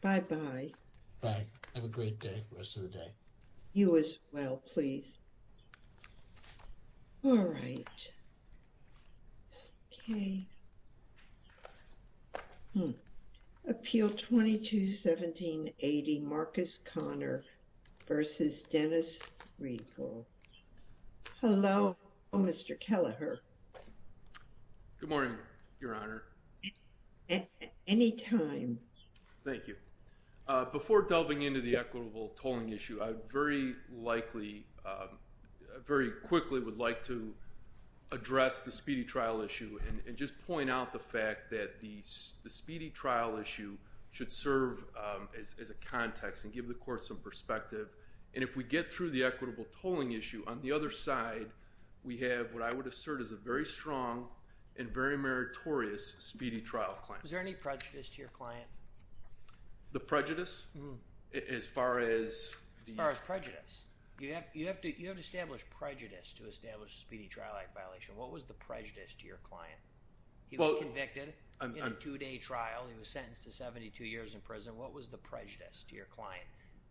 Bye-bye. Bye. Have a great day. Rest of the day. You as well, please. All right. Okay. Appeal 22-1780, Marcus Conner v. Dennis Reagle. Hello. Oh, Mr. Kelleher. Good morning, Your Honor. Anytime. Thank you. Before delving into the equitable tolling issue, I very likely, very quickly would like to address the speedy trial issue and just point out the fact that the speedy trial issue should serve as a context and give the court some perspective. And if we get through the equitable tolling issue, on the other side, we have what I would assert is a very strong and very meritorious speedy trial claim. Is there any prejudice to your client? The prejudice? As far as... As far as prejudice. You have to establish prejudice to establish a speedy trial act violation. What was the prejudice to your client? He was convicted in a two-day trial. He was sentenced to 72 years in prison. What was the prejudice to your client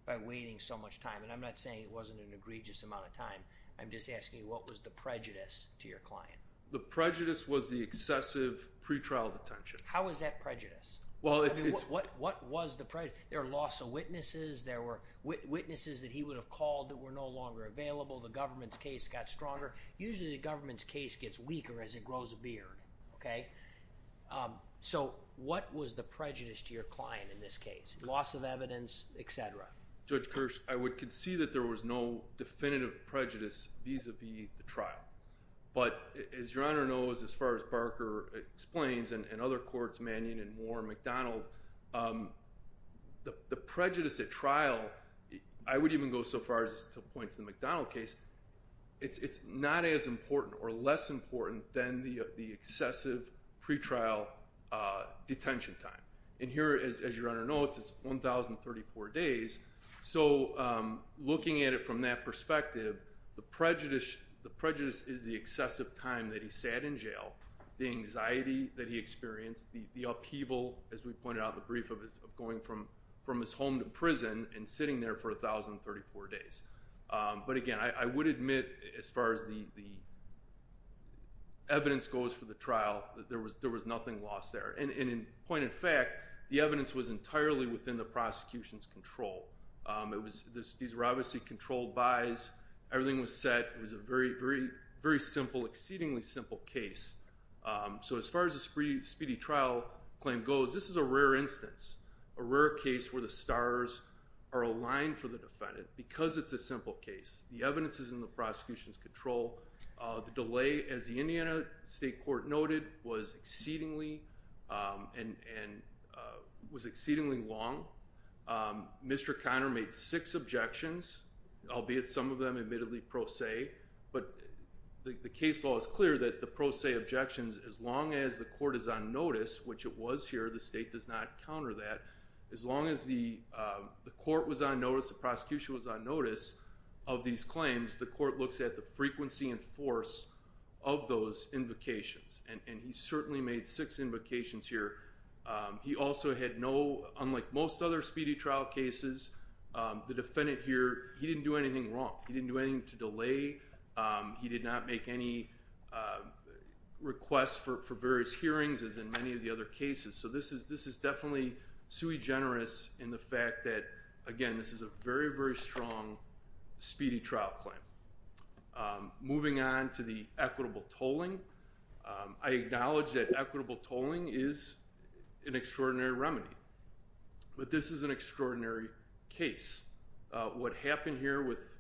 by waiting so much time? I'm not saying it wasn't an egregious amount of time. I'm just asking what was the prejudice to your client? The prejudice was the excessive pre-trial detention. How was that prejudice? What was the prejudice? There are loss of witnesses. There were witnesses that he would have called that were no longer available. The government's case got stronger. Usually, the government's case gets weaker as it grows a beard. Okay. So, what was the prejudice to your client in this case? Loss of evidence, etc. Judge Kirsch, I would concede that there was no definitive prejudice vis-a-vis the trial. But as Your Honor knows, as far as Barker explains and other courts, Manion and Moore, McDonald, the prejudice at trial, I would even go so far as to point to the McDonald case, it's not as important or less important than the excessive pre-trial detention time. And here, as Your Honor knows, it's 1,034 days. So, looking at it from that perspective, the prejudice is the excessive time that he sat in jail, the anxiety that he experienced, the upheaval, as we pointed out in the brief, of going from his home to prison and sitting there for 1,034 days. But again, I would admit, as far as the evidence goes for the trial, there was nothing lost there. And in point of fact, the evidence was entirely within the prosecution's control. These were obviously controlled bys. Everything was set. It was a very simple, exceedingly simple case. So, as far as the speedy trial claim goes, this is a rare instance, a rare case where the stars are aligned for the defendant because it's a simple case. The evidence is in the prosecution's control. The delay, as the Indiana State Court noted, was exceedingly long. Mr. Conner made six objections, albeit some of them admittedly pro se. But the case law is clear that the pro se objections, as long as the court is on notice, which it was here, the state does not counter that, as long as the court was on notice, the prosecution was on notice of these claims, the court looks at the frequency and force of those invocations. And he certainly made six invocations here. He also had no, unlike most other speedy trial cases, the defendant here, he didn't do anything wrong. He didn't do anything to delay. He did not make any requests for various hearings, as in many other cases. So, this is definitely sui generis in the fact that, again, this is a very, very strong speedy trial claim. Moving on to the equitable tolling, I acknowledge that equitable tolling is an extraordinary remedy. But this is an extraordinary case. What happened here with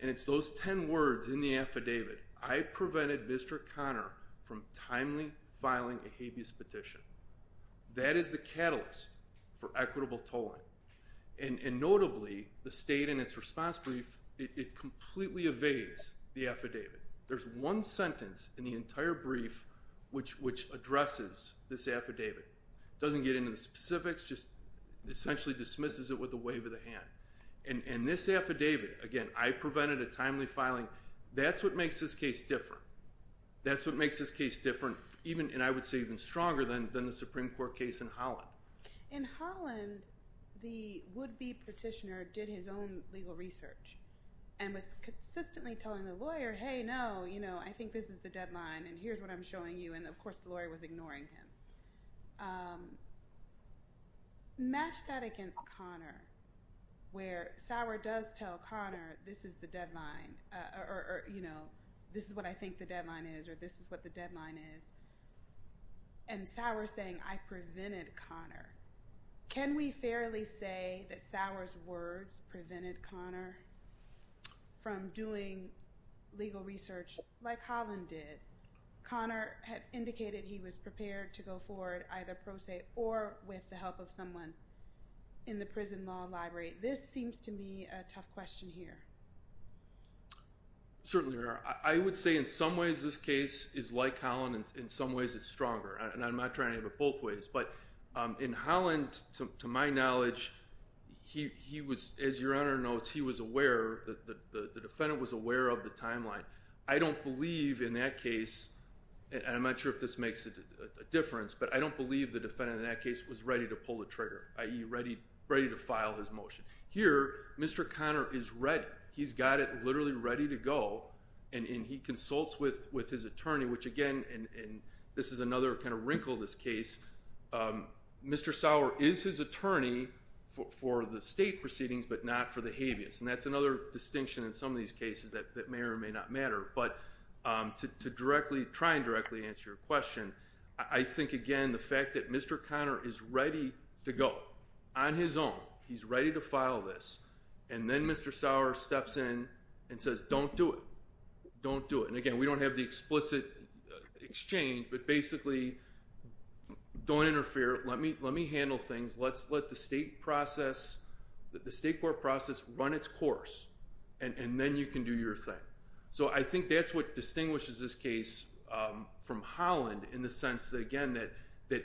And it's those 10 words in the affidavit, I prevented Mr. Conner from timely filing a habeas petition. That is the catalyst for equitable tolling. And notably, the state in its response brief, it completely evades the affidavit. There's one sentence in the entire brief which addresses this affidavit. Doesn't get into the specifics, just essentially dismisses it with a wave of the I prevented a timely filing. That's what makes this case different. That's what makes this case different, and I would say even stronger than the Supreme Court case in Holland. In Holland, the would-be petitioner did his own legal research and was consistently telling the lawyer, hey, no, I think this is the deadline, and here's what I'm showing you. And, of course, the lawyer was ignoring him. Match that against Conner, where Sauer does tell Conner, this is the deadline, or, you know, this is what I think the deadline is, or this is what the deadline is. And Sauer saying, I prevented Conner. Can we fairly say that Sauer's words prevented Conner from doing legal research like Holland did? Conner had indicated he was prepared to go forward either pro se or with the help of someone in the prison law library. This seems to me a tough question here. Certainly, Your Honor. I would say in some ways this case is like Holland, and in some ways it's stronger. And I'm not trying to have it both ways, but in Holland, to my knowledge, he was, as Your Honor notes, he was aware, the defendant was aware of the timeline. I don't believe in that case, and I'm not sure if this makes a difference, but I don't believe the defendant in that case was ready to pull the trigger, i.e. ready to file his motion. Here, Mr. Conner is ready. He's got it literally ready to go, and he consults with his attorney, which again, and this is another kind of wrinkle in this case, Mr. Sauer is his attorney for the state proceedings, but not for the habeas. And that's another distinction in some of these cases that may or may not matter. But to directly, try and directly answer your question, I think again, the fact that Mr. Conner is ready to go on his own. He's ready to file this, and then Mr. Sauer steps in and says, don't do it. Don't do it. And again, we don't have the explicit exchange, but basically, don't interfere. Let me handle things. Let's let the state process, the state court process run its course, and then you can do your thing. So I think that's what that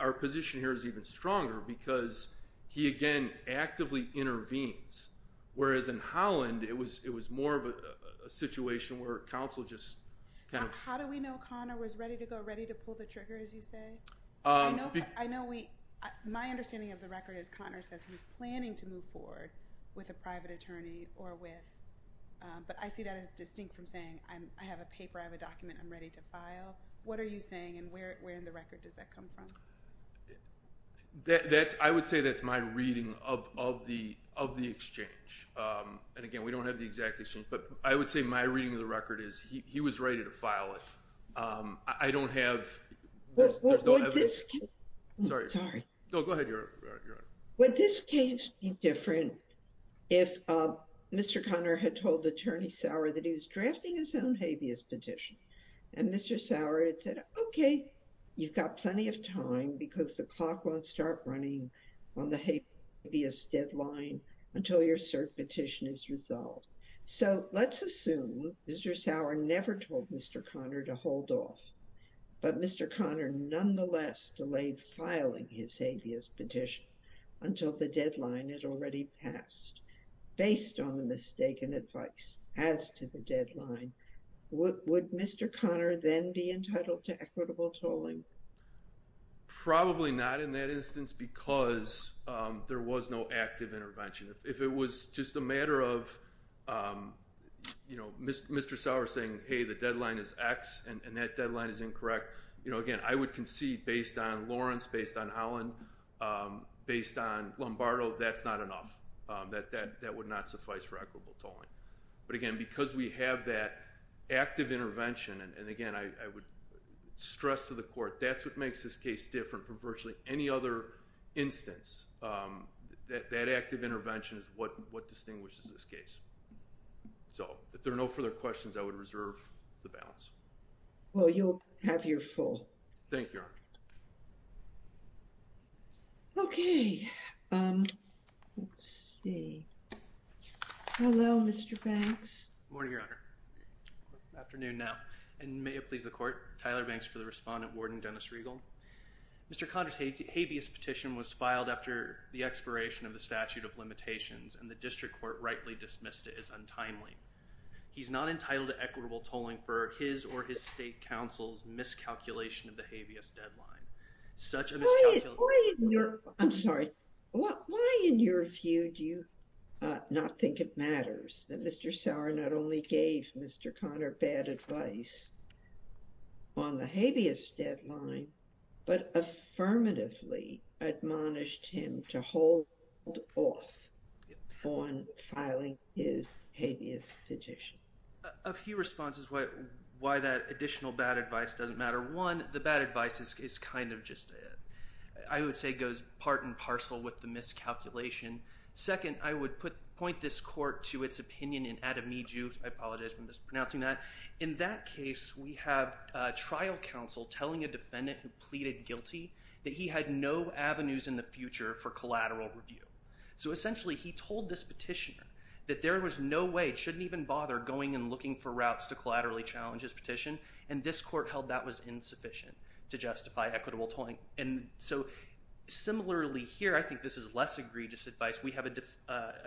our position here is even stronger, because he again, actively intervenes. Whereas in Holland, it was more of a situation where counsel just kind of... How do we know Conner was ready to go, ready to pull the trigger, as you say? I know we, my understanding of the record is Conner says he was planning to move forward with a private attorney or with, but I see that as distinct from saying, I have a paper, I have a document I'm ready to file. What are you saying, and where in the record does that come from? That's, I would say that's my reading of the exchange. And again, we don't have the exact exchange, but I would say my reading of the record is he was ready to file it. I don't have... Would this case be different if Mr. Conner had told Attorney Sauer that he was drafting his own habeas petition, and Mr. Sauer had said, okay, you've got plenty of time because the clock won't start running on the habeas deadline until your cert petition is resolved. So let's assume Mr. Sauer never told Mr. Conner to hold off, but Mr. Conner nonetheless delayed filing his habeas petition until the deadline. Would Mr. Conner then be entitled to equitable tolling? Probably not in that instance, because there was no active intervention. If it was just a matter of, you know, Mr. Sauer saying, hey, the deadline is X, and that deadline is incorrect, you know, again, I would concede based on Lawrence, based on Holland, based on Lombardo, that's not enough. That would not suffice for equitable tolling. But again, because we have that active intervention, and again, I would stress to the court, that's what makes this case different from virtually any other instance. That active intervention is what distinguishes this case. So if there are no further questions, I would reserve the balance. Well, you'll have your full. Thank you, Your Honor. Okay. Let's see. Hello, Mr. Banks. Good morning, Your Honor. Afternoon now. And may it please the court, Tyler Banks for the respondent, Warden Dennis Regal. Mr. Conner's habeas petition was filed after the expiration of the statute of limitations, and the district court rightly dismissed it as a violation of the habeas deadline. Such a miscalculation... I'm sorry. Why, in your view, do you not think it matters that Mr. Sauer not only gave Mr. Conner bad advice on the habeas deadline, but affirmatively admonished him to hold off on filing his habeas petition? A few responses why that additional bad advice doesn't matter. One, the bad advice is kind of just... I would say goes part and parcel with the miscalculation. Second, I would point this court to its opinion in Ademiju. I apologize for mispronouncing that. In that case, we have a trial counsel telling a defendant who pleaded guilty that he had no avenues in the future for collateral review. So essentially, he told this petitioner that there was no way, shouldn't even bother going and looking for routes to collaterally challenge his petition. And this court held that was insufficient to justify equitable tolling. And so similarly here, I think this is less egregious advice. We have an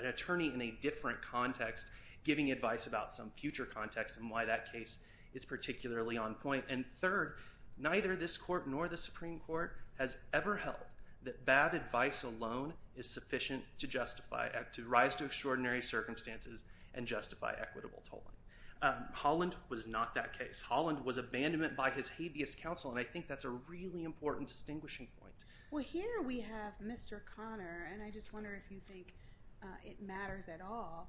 attorney in a different context giving advice about some future context and why that case is particularly on point. And third, neither this court nor the Supreme Court has ever held that bad advice alone is enough to justify extraordinary circumstances and justify equitable tolling. Holland was not that case. Holland was abandonment by his habeas counsel, and I think that's a really important distinguishing point. Well, here we have Mr. Conner, and I just wonder if you think it matters at all.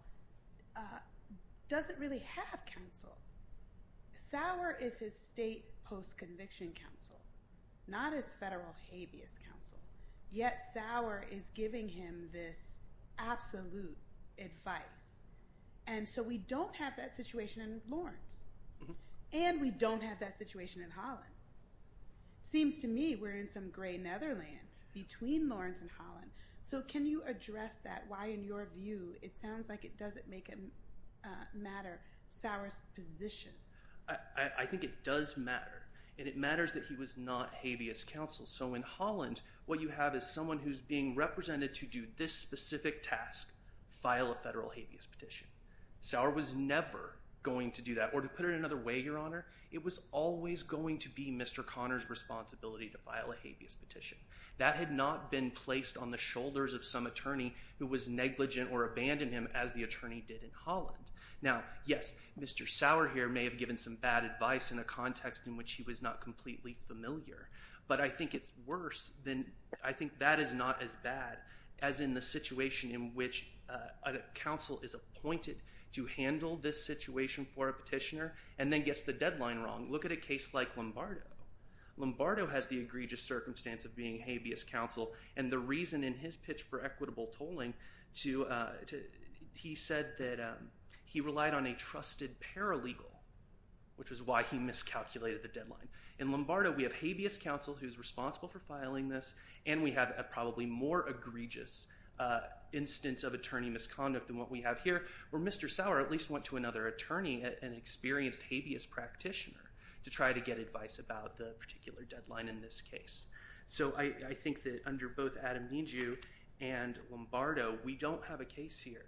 Does it really have counsel? Sauer is his state post-conviction counsel, not his federal habeas counsel, yet Sauer is giving him this absolute advice. And so we don't have that situation in Lawrence, and we don't have that situation in Holland. Seems to me we're in some gray netherland between Lawrence and Holland. So can you address that, why in your view, it sounds like it doesn't make a matter Sauer's position? I think it does matter, and it matters that he was not habeas counsel. So in Holland, what you have is someone who's being represented to do this specific task, file a federal habeas petition. Sauer was never going to do that. Or to put it another way, Your Honor, it was always going to be Mr. Conner's responsibility to file a habeas petition. That had not been placed on the shoulders of some attorney who was negligent or abandoned him, as the attorney did in Holland. Now, yes, Mr. Sauer here may have given some bad advice in a context in which he was not completely familiar. But I think it's worse than, I think that is not as bad as in the situation in which a counsel is appointed to handle this situation for a petitioner, and then gets the deadline wrong. Look at a case like Lombardo. Lombardo has the egregious circumstance of being habeas counsel, and the reason in his pitch for he said that he relied on a trusted paralegal, which was why he miscalculated the deadline. In Lombardo, we have habeas counsel who's responsible for filing this, and we have a probably more egregious instance of attorney misconduct than what we have here, where Mr. Sauer at least went to another attorney, an experienced habeas practitioner, to try to get advice about the particular deadline in this case. So I think that under both Adam Nijoo and Lombardo, we don't have a case here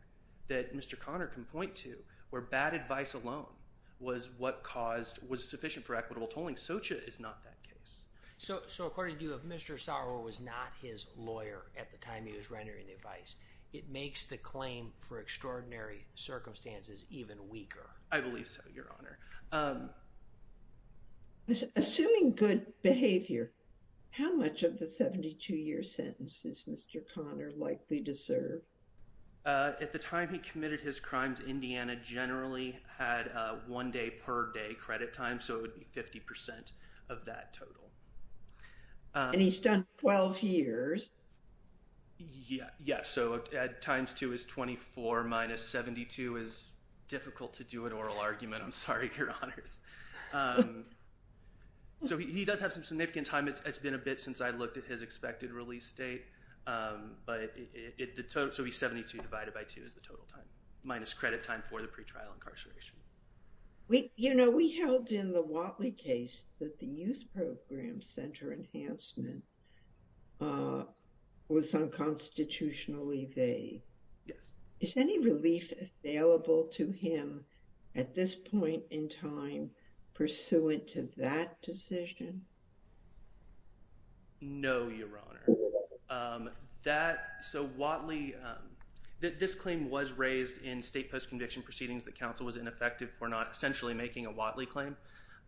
that Mr. Connor can point to where bad advice alone was what caused, was sufficient for equitable tolling. Socha is not that case. So according to you, if Mr. Sauer was not his lawyer at the time he was rendering the advice, it makes the claim for extraordinary circumstances even weaker. I believe so, Your Honor. Assuming good behavior, how much of the 72-year sentence is Mr. Connor likely to serve? At the time he committed his crimes, Indiana generally had one day per day credit time, so it would be 50% of that total. And he's done 12 years. Yeah, yeah. So times two is 24 minus 72 is difficult to do an oral argument. I'm sorry, Your Honors. So he does have some significant time. It's been a bit since I looked at his expected release date. So it would be 72 divided by two is the total time, minus credit time for the pretrial incarceration. We, you know, we held in the Whatley case that the youth program center enhancement was unconstitutionally veiled. Is any relief available to him at this point in time pursuant to that decision? No, Your Honor. That, so Whatley, this claim was raised in state post-conviction proceedings that counsel was ineffective for not essentially making a Whatley claim.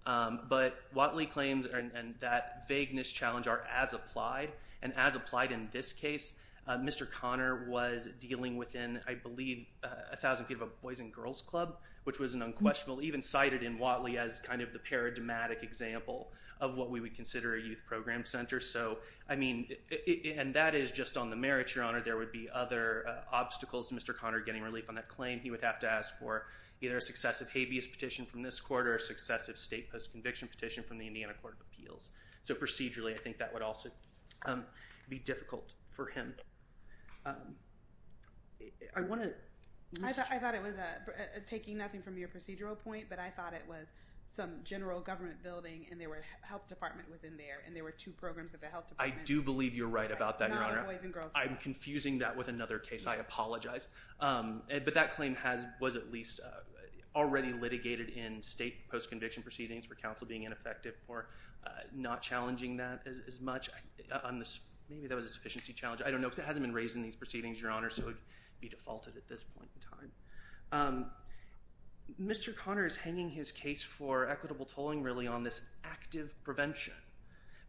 But Whatley claims and that vagueness challenge are as applied. And as applied in this case, Mr. Connor was dealing within, I believe, a thousand feet of a boys and girls club, which was an unquestionable, even cited in Whatley as kind of the paradigmatic example of what we would consider a youth program center. So, I mean, and that is just on the merits, Your Honor. There would be other obstacles to Mr. Connor getting relief on that claim. He would have to ask for either a successive habeas petition from this court or a successive state post-conviction petition from the Indiana Court of Appeals. So, procedurally, I think that would also be difficult for him. I want to... I thought it was a, taking nothing from your procedural point, but I thought it was some general government building and there were, health department was in there and there were two programs at the health department. I do believe you're right about that, Your Honor. I'm confusing that with another case, I apologize. But that claim was at least already litigated in state post-conviction proceedings for counsel being ineffective for not challenging that as much on this. Maybe that was a sufficiency challenge. I don't know because it hasn't been raised in these proceedings, Your Honor, so it would be defaulted at this point in time. Mr. Connor is hanging his case for equitable tolling really on this active prevention.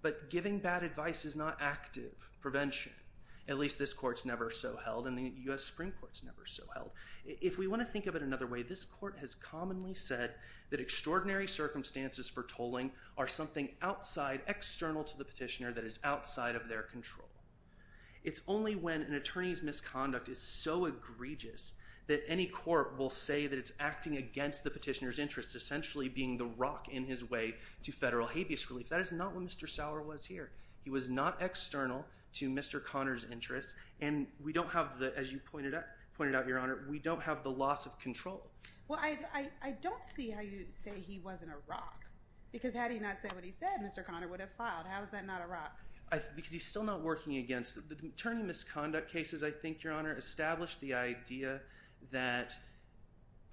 But giving bad advice is not active prevention. At least this court's never so held and the U.S. Supreme Court's never so held. If we want to think of it another way, this court has commonly said that extraordinary circumstances for tolling are something outside, external to the petitioner that is outside of their control. It's only when an attorney's misconduct is so egregious that any court will say that it's acting against the petitioner's interest, essentially being the He was not external to Mr. Connor's interest. And we don't have the, as you pointed out, Your Honor, we don't have the loss of control. Well, I don't see how you say he wasn't a rock because had he not said what he said, Mr. Connor would have filed. How is that not a rock? Because he's still not working against it. The attorney misconduct cases, I think, Your Honor, establish the idea that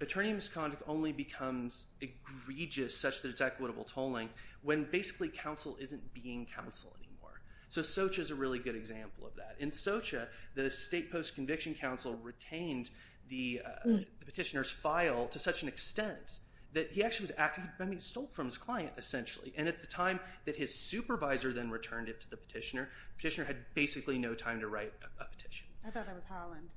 attorney misconduct only becomes egregious such that equitable tolling when basically counsel isn't being counsel anymore. So Socha's a really good example of that. In Socha, the state post-conviction counsel retained the petitioner's file to such an extent that he actually was stolen from his client, essentially. And at the time that his supervisor then returned it to the petitioner, the petitioner had basically no time to write a petition. I thought that was Holland.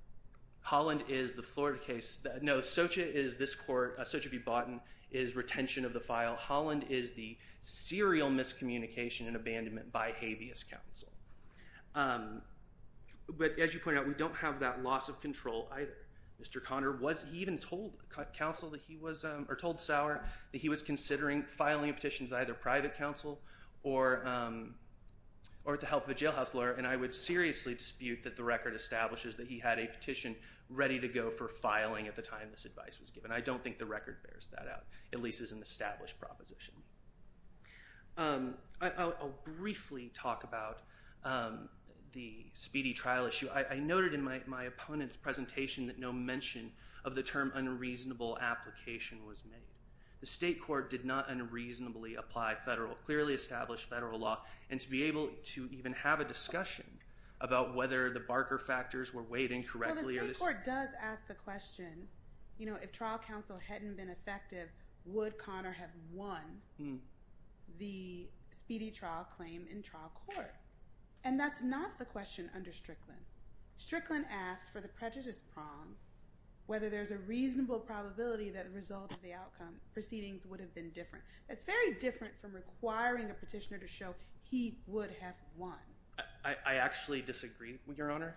Holland is the Florida case. No, Socha is this court, Socha v. Botten is retention of the file. Holland is the serial miscommunication and abandonment by habeas counsel. But as you pointed out, we don't have that loss of control either. Mr. Connor was, he even told counsel that he was, or told Sauer, that he was considering filing a petition to either private counsel or to help the jailhouse lawyer. And I would seriously dispute that the record establishes that he had a petition ready to go for filing at the time this advice was given. I don't think the record bears that out, at least as an established proposition. I'll briefly talk about the speedy trial issue. I noted in my opponent's presentation that no mention of the term unreasonable application was made. The state court did not unreasonably apply federal, clearly established federal law, and to be able to even have a discussion about whether the Barker factors were weighed incorrectly. Well, the state court does ask the question, you know, if trial counsel hadn't been effective, would Connor have won the speedy trial claim in trial court? And that's not the question under Strickland. Strickland asked for the prejudice prong, whether there's a reasonable probability that the result of the outcome proceedings would have been different. That's very different from requiring a petitioner to show he would have won. I actually disagree, Your Honor.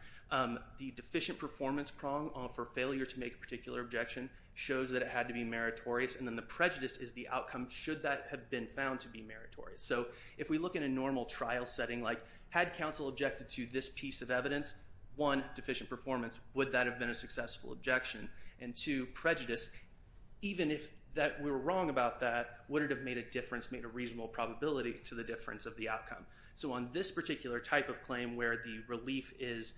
The deficient performance prong for failure to make a particular objection shows that it had to be meritorious, and then the prejudice is the outcome, should that have been found to be meritorious. So if we look in a normal trial setting, like had counsel objected to this piece of evidence, one, deficient performance, would that have been a successful objection? And two, prejudice, even if we were wrong about that, would it have made a difference, made a reasonable probability to the difference of the outcome? So on this particular type of claim where the relief is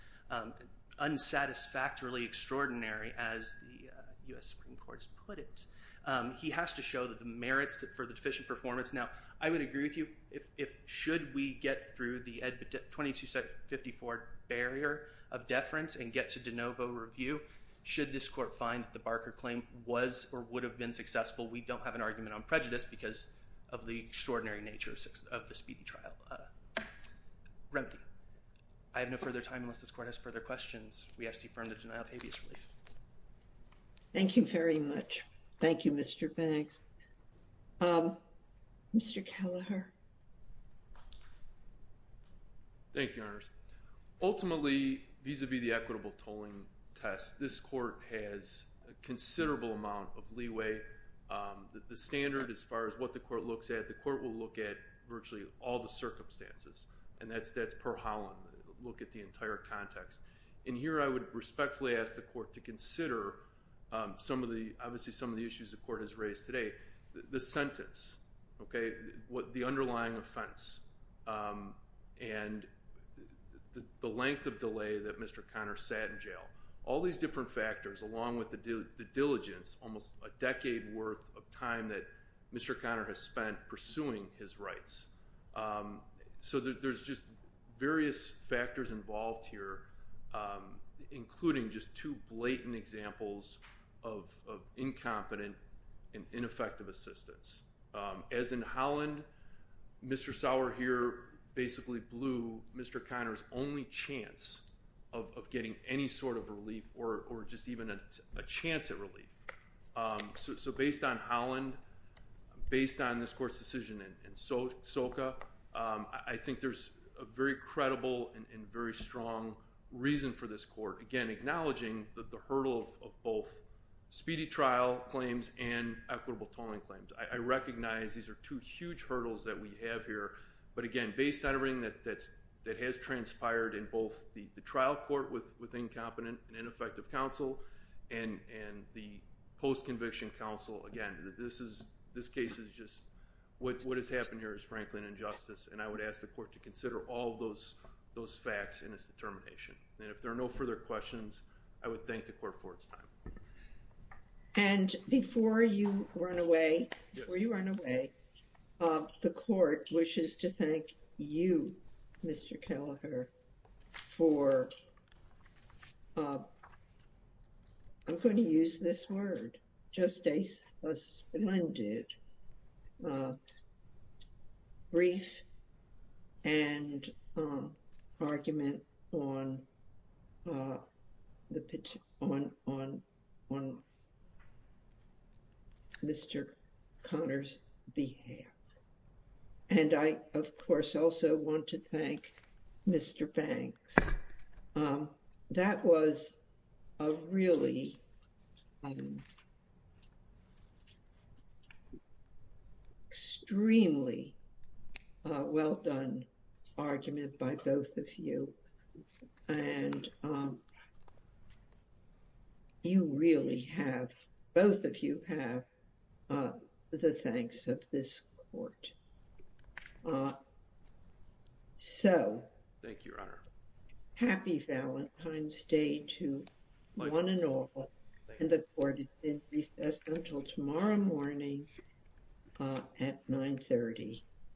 unsatisfactorily extraordinary, as the U.S. Supreme Court has put it, he has to show that the merits for the deficient performance. Now, I would agree with you if, should we get through the 2254 barrier of deference and get to de novo review, should this court find that the Barker claim was or would have been successful, we don't have an argument on prejudice because of the extraordinary nature of the speeding trial remedy. I have no further time unless this court has further questions. We ask to affirm the denial of habeas relief. Thank you very much. Thank you, Mr. Banks. Mr. Kelleher. Thank you, Your Honors. Ultimately, vis-a-vis the equitable tolling test, this court has a the court will look at virtually all the circumstances, and that's per holland, look at the entire context. And here I would respectfully ask the court to consider some of the, obviously some of the issues the court has raised today. The sentence, okay, the underlying offense, and the length of delay that Mr. Conner sat in jail. All these different pursuing his rights. So there's just various factors involved here, including just two blatant examples of incompetent and ineffective assistance. As in Holland, Mr. Sauer here basically blew Mr. Conner's only chance of getting any sort of relief or just even a chance at relief. So based on Holland, based on this court's decision in Soka, I think there's a very credible and very strong reason for this court, again, acknowledging that the hurdle of both speedy trial claims and equitable tolling claims. I recognize these are two huge hurdles that we have here. But again, based on everything that has transpired in both the trial court with incompetent and ineffective counsel and the post-conviction counsel, again, this case is just, what has happened here is frankly an injustice. And I would ask the court to consider all of those facts in its determination. And if there are no further questions, I would thank the court for its time. And before you run away, the court wishes to thank you, Mr. Kelleher, for, I'm going to use this word, just a splendid brief and argument on Mr. Conner's behalf. And I, of course, also want to thank Mr. Banks. That was a really extremely well-done argument by both of you. And you really have, both of you have, the thanks of this court. So, happy Valentine's Day to one and all. And the court is in recess until tomorrow morning at 9.30.